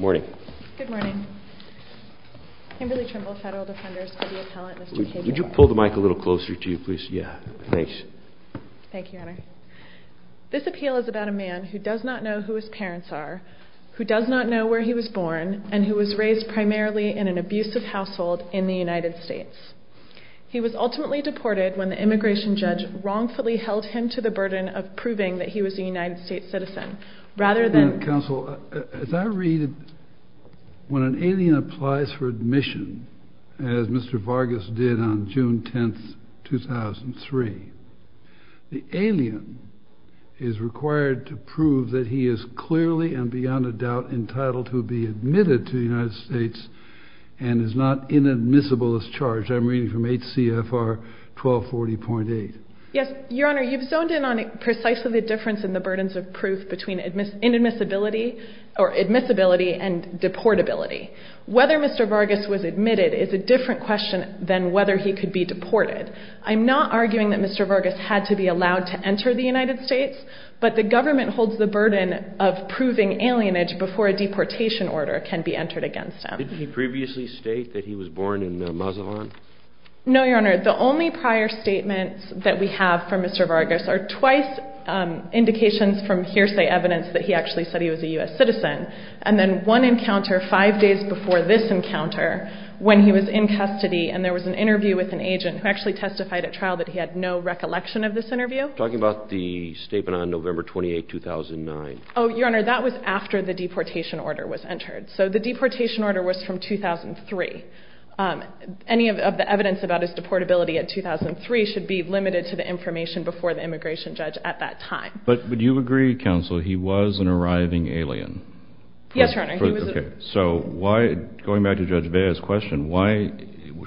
Morning. Good morning. Kimberly Trimble, Federal Defenders. Could you pull the mic a little closer to you, please? Yeah, thanks. Thank you. This appeal is about a man who does not know who his parents are, who does not know where he was born, and who was raised primarily in an abusive household in the United States. He was ultimately deported when the immigration judge wrongfully held him to the burden of proving that he was a United States citizen. Rather than... When an alien applies for admission, as Mr. Vargas did on June 10, 2003, the alien is required to prove that he is clearly and beyond a doubt entitled to be admitted to the United States and is not inadmissible as charged. I'm reading from HCFR 1240.8. Yes, Your Honor, you've zoned in on precisely the difference in the burdens of proof between inadmissibility or admissibility and deportability. Whether Mr. Vargas was admitted is a different question than whether he could be deported. I'm not arguing that Mr. Vargas had to be allowed to enter the United States, but the government holds the burden of proving alienage before a deportation order can be entered against him. Didn't he previously state that he was born in Mazatlan? No, Your Honor. The only prior statements that we have from Mr. Vargas are twice indications from hearsay evidence that he actually said he was a U.S. citizen, and then one encounter five days before this encounter when he was in custody and there was an interview with an agent who actually testified at trial that he had no recollection of this interview. Talking about the statement on November 28, 2009. Oh, Your Honor, that was after the deportation order was entered. So the deportation order was from 2003. Any of the evidence about his deportability at 2003 should be limited to the information before the immigration judge at that time. But would you agree, counsel, he was an arriving alien? Yes, Your Honor. So going back to Judge Vea's question, why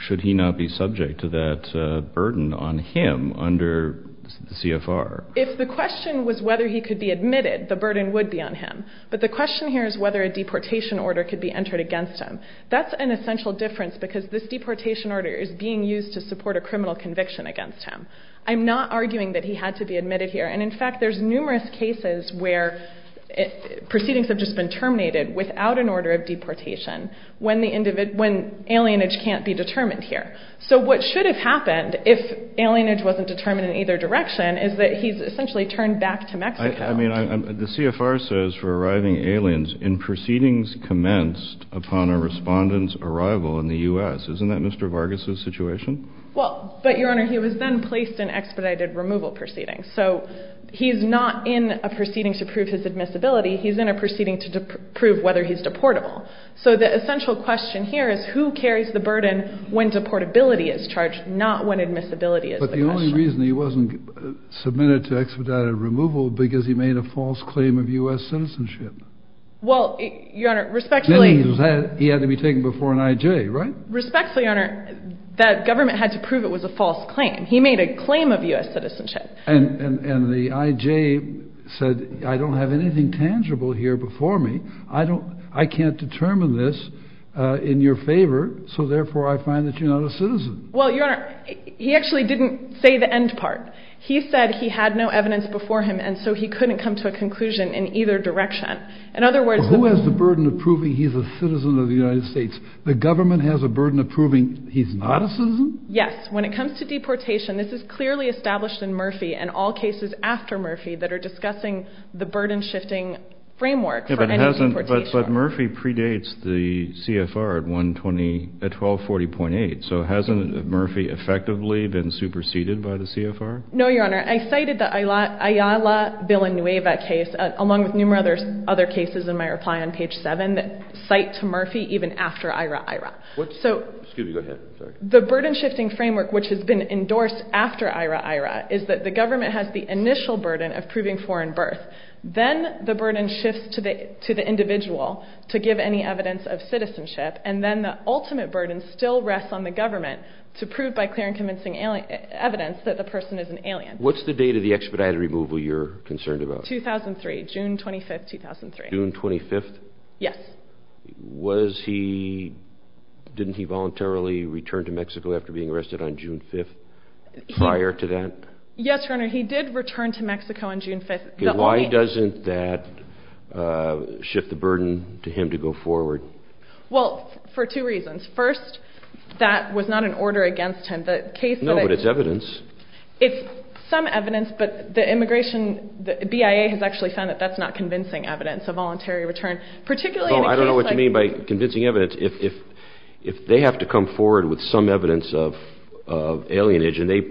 should he not be subject to that burden on him under the CFR? If the question was whether he could be admitted, the burden would be on him, but the question here is whether a deportation order could be entered against him. That's an essential difference because this deportation order is being used to support a criminal conviction against him. I'm not arguing that he had to be admitted here, and in fact there's numerous cases where proceedings have just been terminated without an order of deportation when alienage can't be determined here. So what should have happened if alienage wasn't determined in either direction is that he's essentially turned back to Mexico. I mean, the CFR says for arriving aliens in proceedings commenced upon a respondent's arrival in the U.S. Isn't that Mr. Vargas' situation? Well, but Your Honor, he was then placed in expedited removal proceedings. So he's not in a proceeding to prove his admissibility. He's in a proceeding to prove whether he's deportable. So the essential question here is who carries the burden when deportability is charged, not when admissibility is the question. But the only reason he wasn't submitted to expedited removal was because he made a false claim of U.S. citizenship. Well, Your Honor, respectfully... Then he had to be taken before an I.J., right? Respectfully, Your Honor, that government had to prove it was a false claim. He made a claim of U.S. citizenship. And the I.J. said, I don't have anything tangible here before me. I can't determine this in your favor, so therefore I find that you're not a citizen. Well, Your Honor, he actually didn't say the end part. He said he had no evidence before him, and so he couldn't come to a conclusion in either direction. In other words... Well, who has the burden of proving he's a citizen of the United States? The government has a burden of proving he's not a citizen? Yes. When it comes to deportation, this is clearly established in Murphy and all cases after Murphy that are discussing the burden-shifting framework for any deportation. But Murphy predates the CFR at 1240.8, so hasn't Murphy effectively been superseded by the CFR? No, Your Honor. I cited the Ayala-Villanueva case, along with numerous other cases in my reply on page 7, that cite to Murphy even after Ira-Ira. Excuse me. Go ahead. The burden-shifting framework, which has been endorsed after Ira-Ira, is that the government has the initial burden of proving foreign birth. Then the burden shifts to the individual to give any evidence of citizenship, and then the ultimate burden still rests on the government to prove by clear and convincing evidence that the person is an alien. What's the date of the expedited removal you're concerned about? 2003, June 25, 2003. June 25th? Yes. Didn't he voluntarily return to Mexico after being arrested on June 5th prior to that? Yes, Your Honor. He did return to Mexico on June 5th. Why doesn't that shift the burden to him to go forward? Well, for two reasons. First, that was not an order against him. No, but it's evidence. It's some evidence, but the immigration, the BIA has actually found that that's not convincing evidence, a voluntary return, particularly in a case like- Oh, I don't know what you mean by convincing evidence. If they have to come forward with some evidence of alienage, and they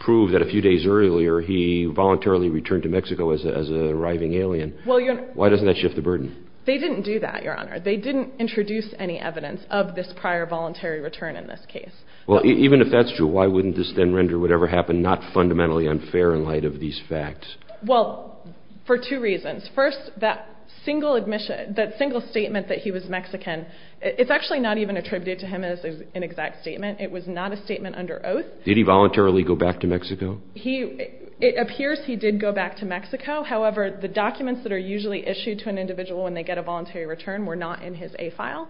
prove that a few days earlier he voluntarily returned to Mexico as an arriving alien, why doesn't that shift the burden? They didn't do that, Your Honor. They didn't introduce any evidence of this prior voluntary return in this case. Well, even if that's true, why wouldn't this then render whatever happened not fundamentally unfair in light of these facts? Well, for two reasons. First, that single admission, that single statement that he was Mexican, it's actually not even attributed to him as an exact statement. It was not a statement under oath. Did he voluntarily go back to Mexico? It appears he did go back to Mexico. However, the documents that are usually issued to an individual when they get a voluntary return were not in his A file.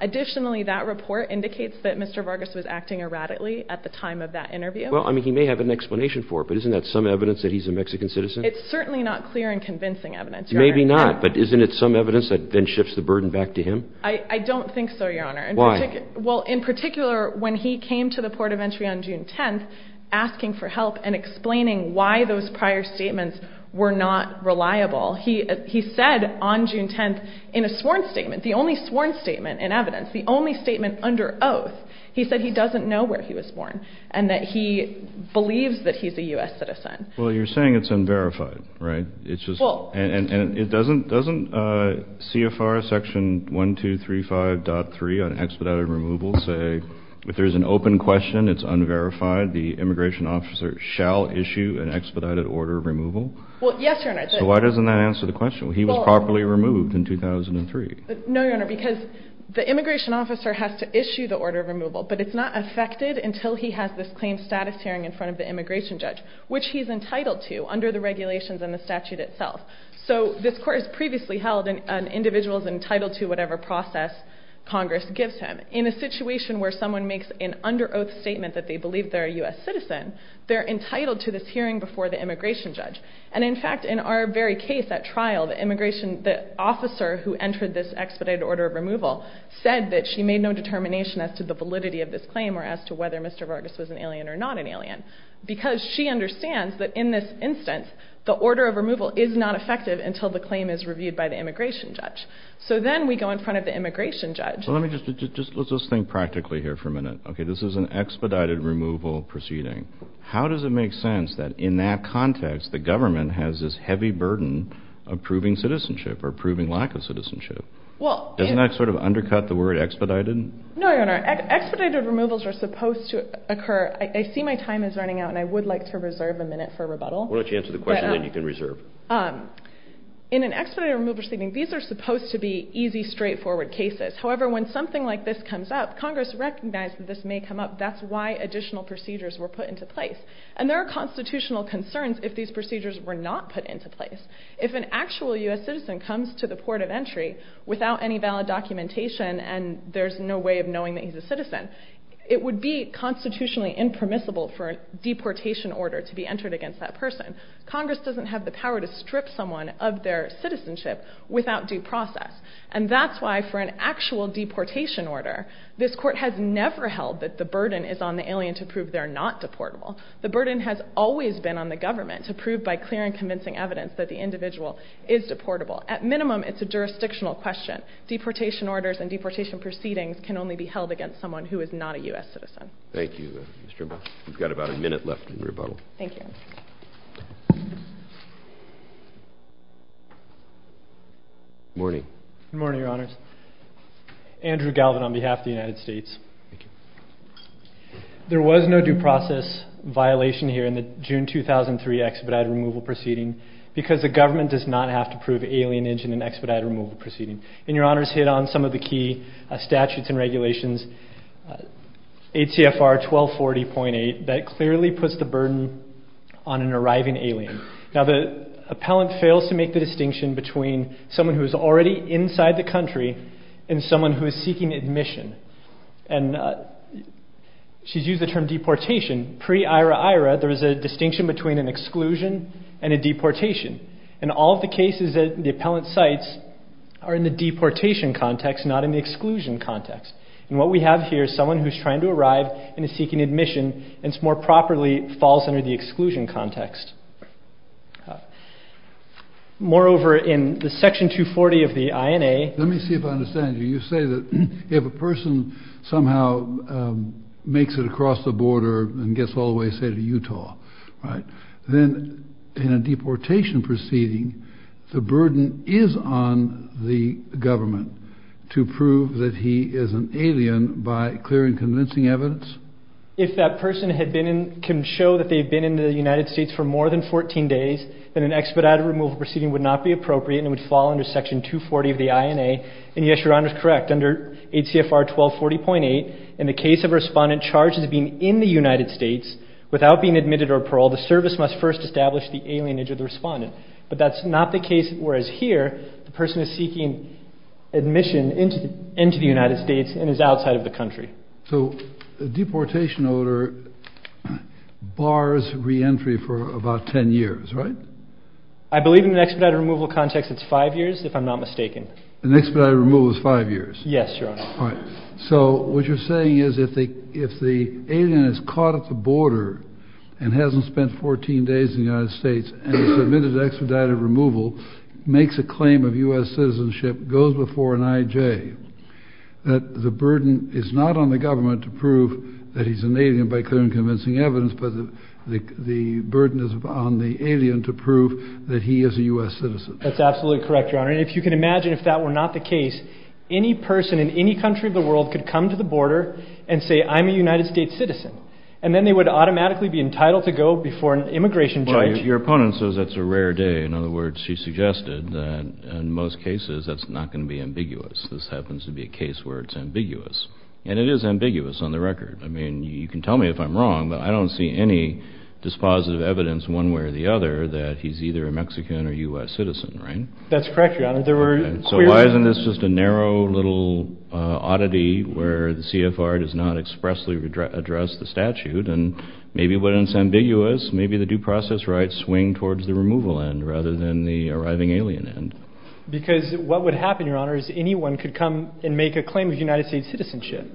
Additionally, that report indicates that Mr. Vargas was acting erratically at the time of that interview. Well, I mean, he may have an explanation for it, but isn't that some evidence that he's a Mexican citizen? It's certainly not clear and convincing evidence, Your Honor. Maybe not, but isn't it some evidence that then shifts the burden back to him? I don't think so, Your Honor. Why? Well, in particular, when he came to the Port of Entry on June 10th asking for help and explaining why those prior statements were not reliable, he said on June 10th in a sworn statement, the only sworn statement in evidence, the only statement under oath, he said he doesn't know where he was born and that he believes that he's a U.S. citizen. Well, you're saying it's unverified, right? Well. And doesn't CFR Section 1235.3 on expedited removal say if there's an open question, it's unverified, the immigration officer shall issue an expedited order of removal? Well, yes, Your Honor. So why doesn't that answer the question? He was properly removed in 2003. No, Your Honor, because the immigration officer has to issue the order of removal, but it's not effected until he has this claimed status hearing in front of the immigration judge, which he's entitled to under the regulations and the statute itself. So this court has previously held an individual is entitled to whatever process Congress gives him. In a situation where someone makes an under oath statement that they believe they're a U.S. citizen, they're entitled to this hearing before the immigration judge. And, in fact, in our very case, that trial, the immigration, the officer who entered this expedited order of removal said that she made no determination as to the validity of this claim or as to whether Mr. Vargas was an alien or not an alien. Because she understands that in this instance, the order of removal is not effective until the claim is reviewed by the immigration judge. So then we go in front of the immigration judge. Well, let me just, let's just think practically here for a minute. Okay, this is an expedited removal proceeding. How does it make sense that in that context, the government has this heavy burden of proving citizenship or proving lack of citizenship? Well, Doesn't that sort of undercut the word expedited? No, Your Honor. Expedited removals are supposed to occur. I see my time is running out, and I would like to reserve a minute for rebuttal. Why don't you answer the question, then you can reserve. In an expedited removal proceeding, these are supposed to be easy, straightforward cases. However, when something like this comes up, Congress recognized that this may come up. That's why additional procedures were put into place. And there are constitutional concerns if these procedures were not put into place. If an actual U.S. citizen comes to the port of entry without any valid documentation, and there's no way of knowing that he's a citizen, it would be constitutionally impermissible for a deportation order to be entered against that person. Congress doesn't have the power to strip someone of their citizenship without due process. And that's why for an actual deportation order, this Court has never held that the burden is on the alien to prove they're not deportable. The burden has always been on the government to prove by clear and convincing evidence that the individual is deportable. At minimum, it's a jurisdictional question. Deportation orders and deportation proceedings can only be held against someone who is not a U.S. citizen. Thank you, Ms. Strinbaugh. We've got about a minute left in rebuttal. Thank you. Good morning. Good morning, Your Honors. Andrew Galvin on behalf of the United States. Thank you. There was no due process violation here in the June 2003 expedited removal proceeding because the government does not have to prove alienage in an expedited removal proceeding. ACFR 1240.8, that clearly puts the burden on an arriving alien. Now, the appellant fails to make the distinction between someone who is already inside the country and someone who is seeking admission. And she's used the term deportation. Pre-IRA-IRA, there was a distinction between an exclusion and a deportation. And all of the cases that the appellant cites are in the deportation context, not in the exclusion context. And what we have here is someone who's trying to arrive and is seeking admission and more properly falls under the exclusion context. Moreover, in the Section 240 of the INA. Let me see if I understand you. You say that if a person somehow makes it across the border and gets all the way, say, to Utah, right, then in a deportation proceeding, the burden is on the government to prove that he is an alien by clear and convincing evidence? If that person had been in, can show that they've been in the United States for more than 14 days, then an expedited removal proceeding would not be appropriate and would fall under Section 240 of the INA. And, yes, Your Honor is correct. Under ACFR 1240.8, in the case of a respondent charged as being in the United States without being admitted or paroled, the service must first establish the alienage of the respondent. But that's not the case. Whereas here, the person is seeking admission into the United States and is outside of the country. So a deportation order bars reentry for about 10 years, right? I believe in an expedited removal context, it's five years, if I'm not mistaken. An expedited removal is five years. Yes, Your Honor. All right. So what you're saying is if the alien is caught at the border and hasn't spent 14 days in the United States and is admitted to expedited removal, makes a claim of U.S. citizenship, goes before an IJ, that the burden is not on the government to prove that he's an alien by clear and convincing evidence, but the burden is on the alien to prove that he is a U.S. citizen. That's absolutely correct, Your Honor. And if you can imagine if that were not the case, any person in any country of the world could come to the border and say, I'm a United States citizen. And then they would automatically be entitled to go before an immigration judge. Well, your opponent says that's a rare day. In other words, she suggested that in most cases that's not going to be ambiguous. This happens to be a case where it's ambiguous. And it is ambiguous on the record. I mean, you can tell me if I'm wrong, but I don't see any dispositive evidence one way or the other that he's either a Mexican or U.S. citizen, right? That's correct, Your Honor. So why isn't this just a narrow little oddity where the CFR does not expressly address the statute and maybe when it's ambiguous, maybe the due process rights swing towards the removal end rather than the arriving alien end? Because what would happen, Your Honor, is anyone could come and make a claim of United States citizenship.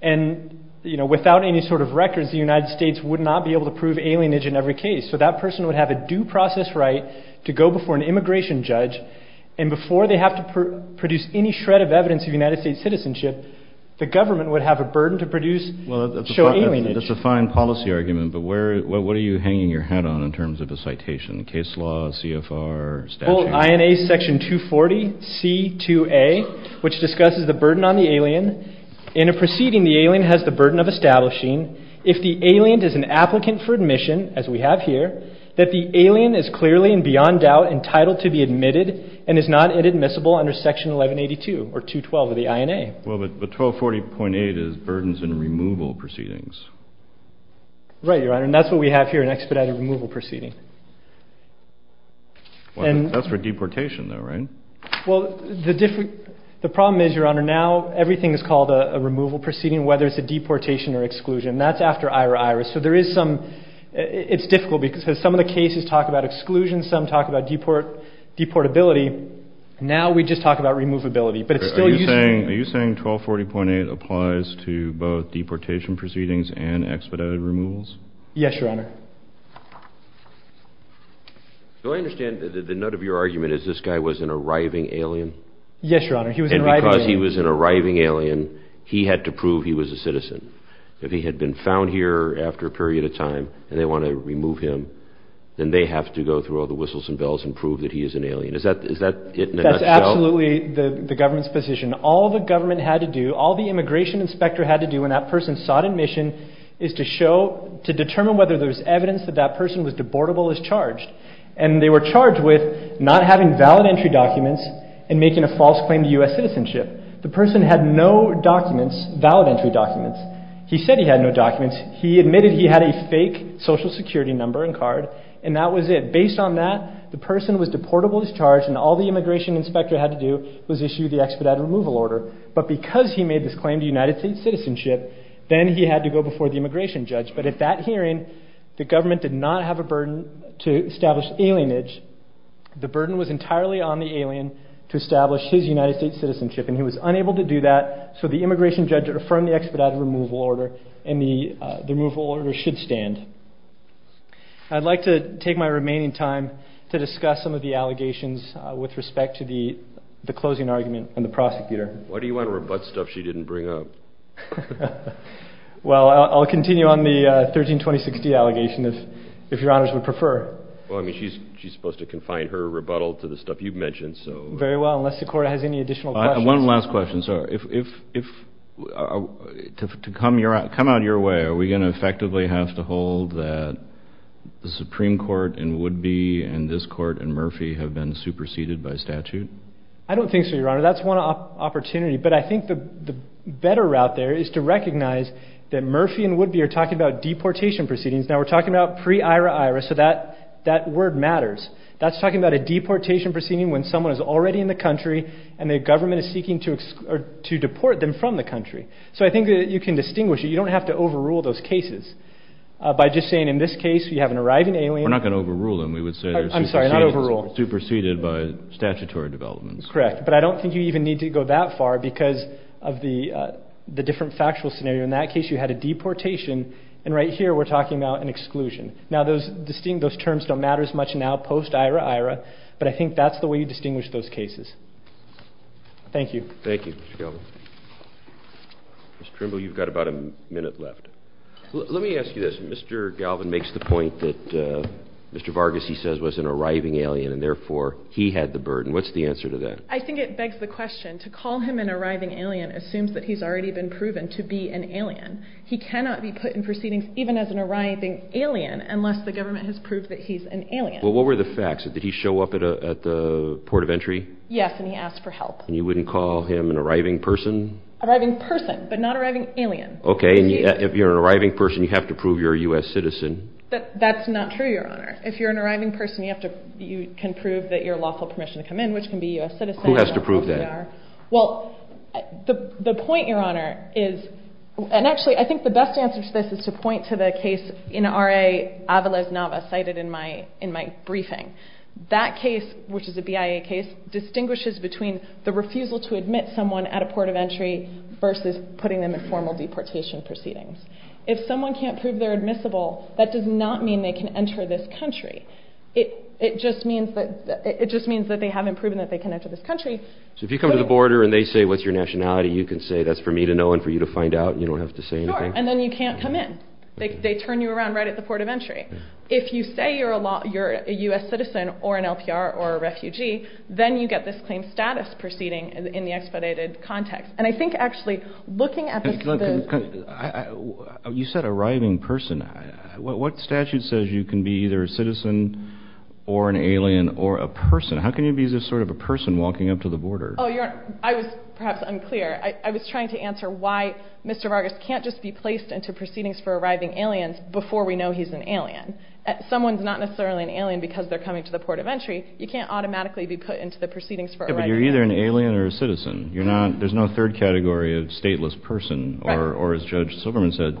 And, you know, without any sort of records, the United States would not be able to prove alienage in every case. So that person would have a due process right to go before an immigration judge. And before they have to produce any shred of evidence of United States citizenship, the government would have a burden to produce, show alienage. Well, that's a fine policy argument, but what are you hanging your hat on in terms of a citation, case law, CFR, statute? Well, INA Section 240C2A, which discusses the burden on the alien. In a proceeding, the alien has the burden of establishing. If the alien is an applicant for admission, as we have here, that the alien is clearly and beyond doubt entitled to be admitted and is not inadmissible under Section 1182 or 212 of the INA. Well, but 1240.8 is burdens in removal proceedings. Right, Your Honor, and that's what we have here, an expedited removal proceeding. That's for deportation though, right? Well, the problem is, Your Honor, now everything is called a removal proceeding, whether it's a deportation or exclusion. That's after Ira Iris. So there is some, it's difficult because some of the cases talk about exclusion, some talk about deportability. Now we just talk about removability. Are you saying 1240.8 applies to both deportation proceedings and expedited removals? Yes, Your Honor. So I understand that the nut of your argument is this guy was an arriving alien? Yes, Your Honor, he was an arriving alien. He had to prove he was a citizen. If he had been found here after a period of time and they want to remove him, then they have to go through all the whistles and bells and prove that he is an alien. Is that it in a nutshell? That's absolutely the government's position. All the government had to do, all the immigration inspector had to do when that person sought admission is to show, to determine whether there's evidence that that person was deportable as charged. And they were charged with not having valid entry documents and making a false claim to U.S. citizenship. The person had no documents, valid entry documents. He said he had no documents. He admitted he had a fake social security number and card. And that was it. Based on that, the person was deportable as charged and all the immigration inspector had to do was issue the expedited removal order. But because he made this claim to United States citizenship, then he had to go before the immigration judge. But at that hearing, the government did not have a burden to establish alienage. The burden was entirely on the alien to establish his United States citizenship. And he was unable to do that, so the immigration judge reaffirmed the expedited removal order and the removal order should stand. I'd like to take my remaining time to discuss some of the allegations with respect to the closing argument and the prosecutor. Why do you want to rebut stuff she didn't bring up? Well, I'll continue on the 132060 allegation if your honors would prefer. Well, I mean, she's supposed to confine her rebuttal to the stuff you've mentioned. Very well, unless the court has any additional questions. One last question, sir. To come out of your way, are we going to effectively have to hold that the Supreme Court in Woodby and this court in Murphy have been superseded by statute? I don't think so, your honor. That's one opportunity. But I think the better route there is to recognize that Murphy and Woodby are talking about deportation proceedings. Now, we're talking about pre-IRA-IRA, so that word matters. That's talking about a deportation proceeding when someone is already in the country and the government is seeking to deport them from the country. So I think that you can distinguish it. You don't have to overrule those cases by just saying in this case you have an arriving alien. We're not going to overrule them. We would say they're superseded by statutory developments. Correct, but I don't think you even need to go that far because of the different factual scenario. In that case, you had a deportation, and right here we're talking about an exclusion. Now, those terms don't matter as much now post-IRA-IRA, but I think that's the way you distinguish those cases. Thank you. Thank you, Mr. Galvin. Ms. Trimble, you've got about a minute left. Let me ask you this. Mr. Galvin makes the point that Mr. Vargas, he says, was an arriving alien, and therefore he had the burden. What's the answer to that? I think it begs the question. To call him an arriving alien assumes that he's already been proven to be an alien. He cannot be put in proceedings even as an arriving alien unless the government has proved that he's an alien. Well, what were the facts? Did he show up at the port of entry? Yes, and he asked for help. And you wouldn't call him an arriving person? Arriving person, but not arriving alien. Okay, and if you're an arriving person, you have to prove you're a U.S. citizen. That's not true, Your Honor. If you're an arriving person, you can prove that you're lawful permission to come in, which can be a U.S. citizen. Who has to prove that? Well, the point, Your Honor, is, and actually I think the best answer to this is to point to the case in R.A. Avales-Nava, cited in my briefing. That case, which is a BIA case, distinguishes between the refusal to admit someone at a port of entry versus putting them in formal deportation proceedings. If someone can't prove they're admissible, that does not mean they can enter this country. It just means that they haven't proven that they can enter this country. So if you come to the border and they say, what's your nationality, you can say, that's for me to know and for you to find out and you don't have to say anything? Sure, and then you can't come in. They turn you around right at the port of entry. If you say you're a U.S. citizen or an LPR or a refugee, then you get this claim status proceeding in the expedited context. And I think actually looking at the… You said arriving person. What statute says you can be either a citizen or an alien or a person? How can you be this sort of a person walking up to the border? Oh, Your Honor, I was perhaps unclear. I was trying to answer why Mr. Vargas can't just be placed into proceedings for arriving aliens before we know he's an alien. Someone's not necessarily an alien because they're coming to the port of entry. You can't automatically be put into the proceedings for arriving aliens. Yeah, but you're either an alien or a citizen. There's no third category of stateless person, or as Judge Silverman said,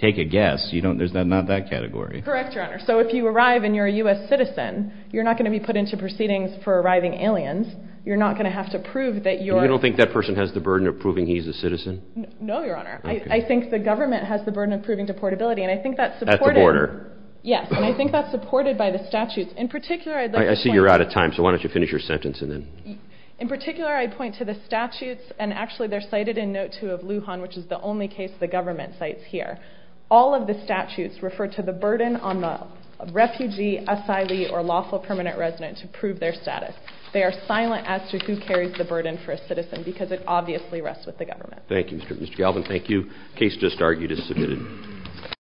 take a guess. There's not that category. Correct, Your Honor. So if you arrive and you're a U.S. citizen, you're not going to be put into proceedings for arriving aliens. You're not going to have to prove that you're… You don't think that person has the burden of proving he's a citizen? No, Your Honor. I think the government has the burden of proving deportability, and I think that's supported… At the border. Yes, and I think that's supported by the statutes. In particular, I'd like to point… I see you're out of time, so why don't you finish your sentence and then… In particular, I'd point to the statutes, and actually they're cited in Note 2 of Lujan, which is the only case the government cites here. All of the statutes refer to the burden on the refugee, asylee, or lawful permanent resident to prove their status. They are silent as to who carries the burden for a citizen because it obviously rests with the government. Thank you, Mr. Galvin. Thank you. The case just argued is submitted.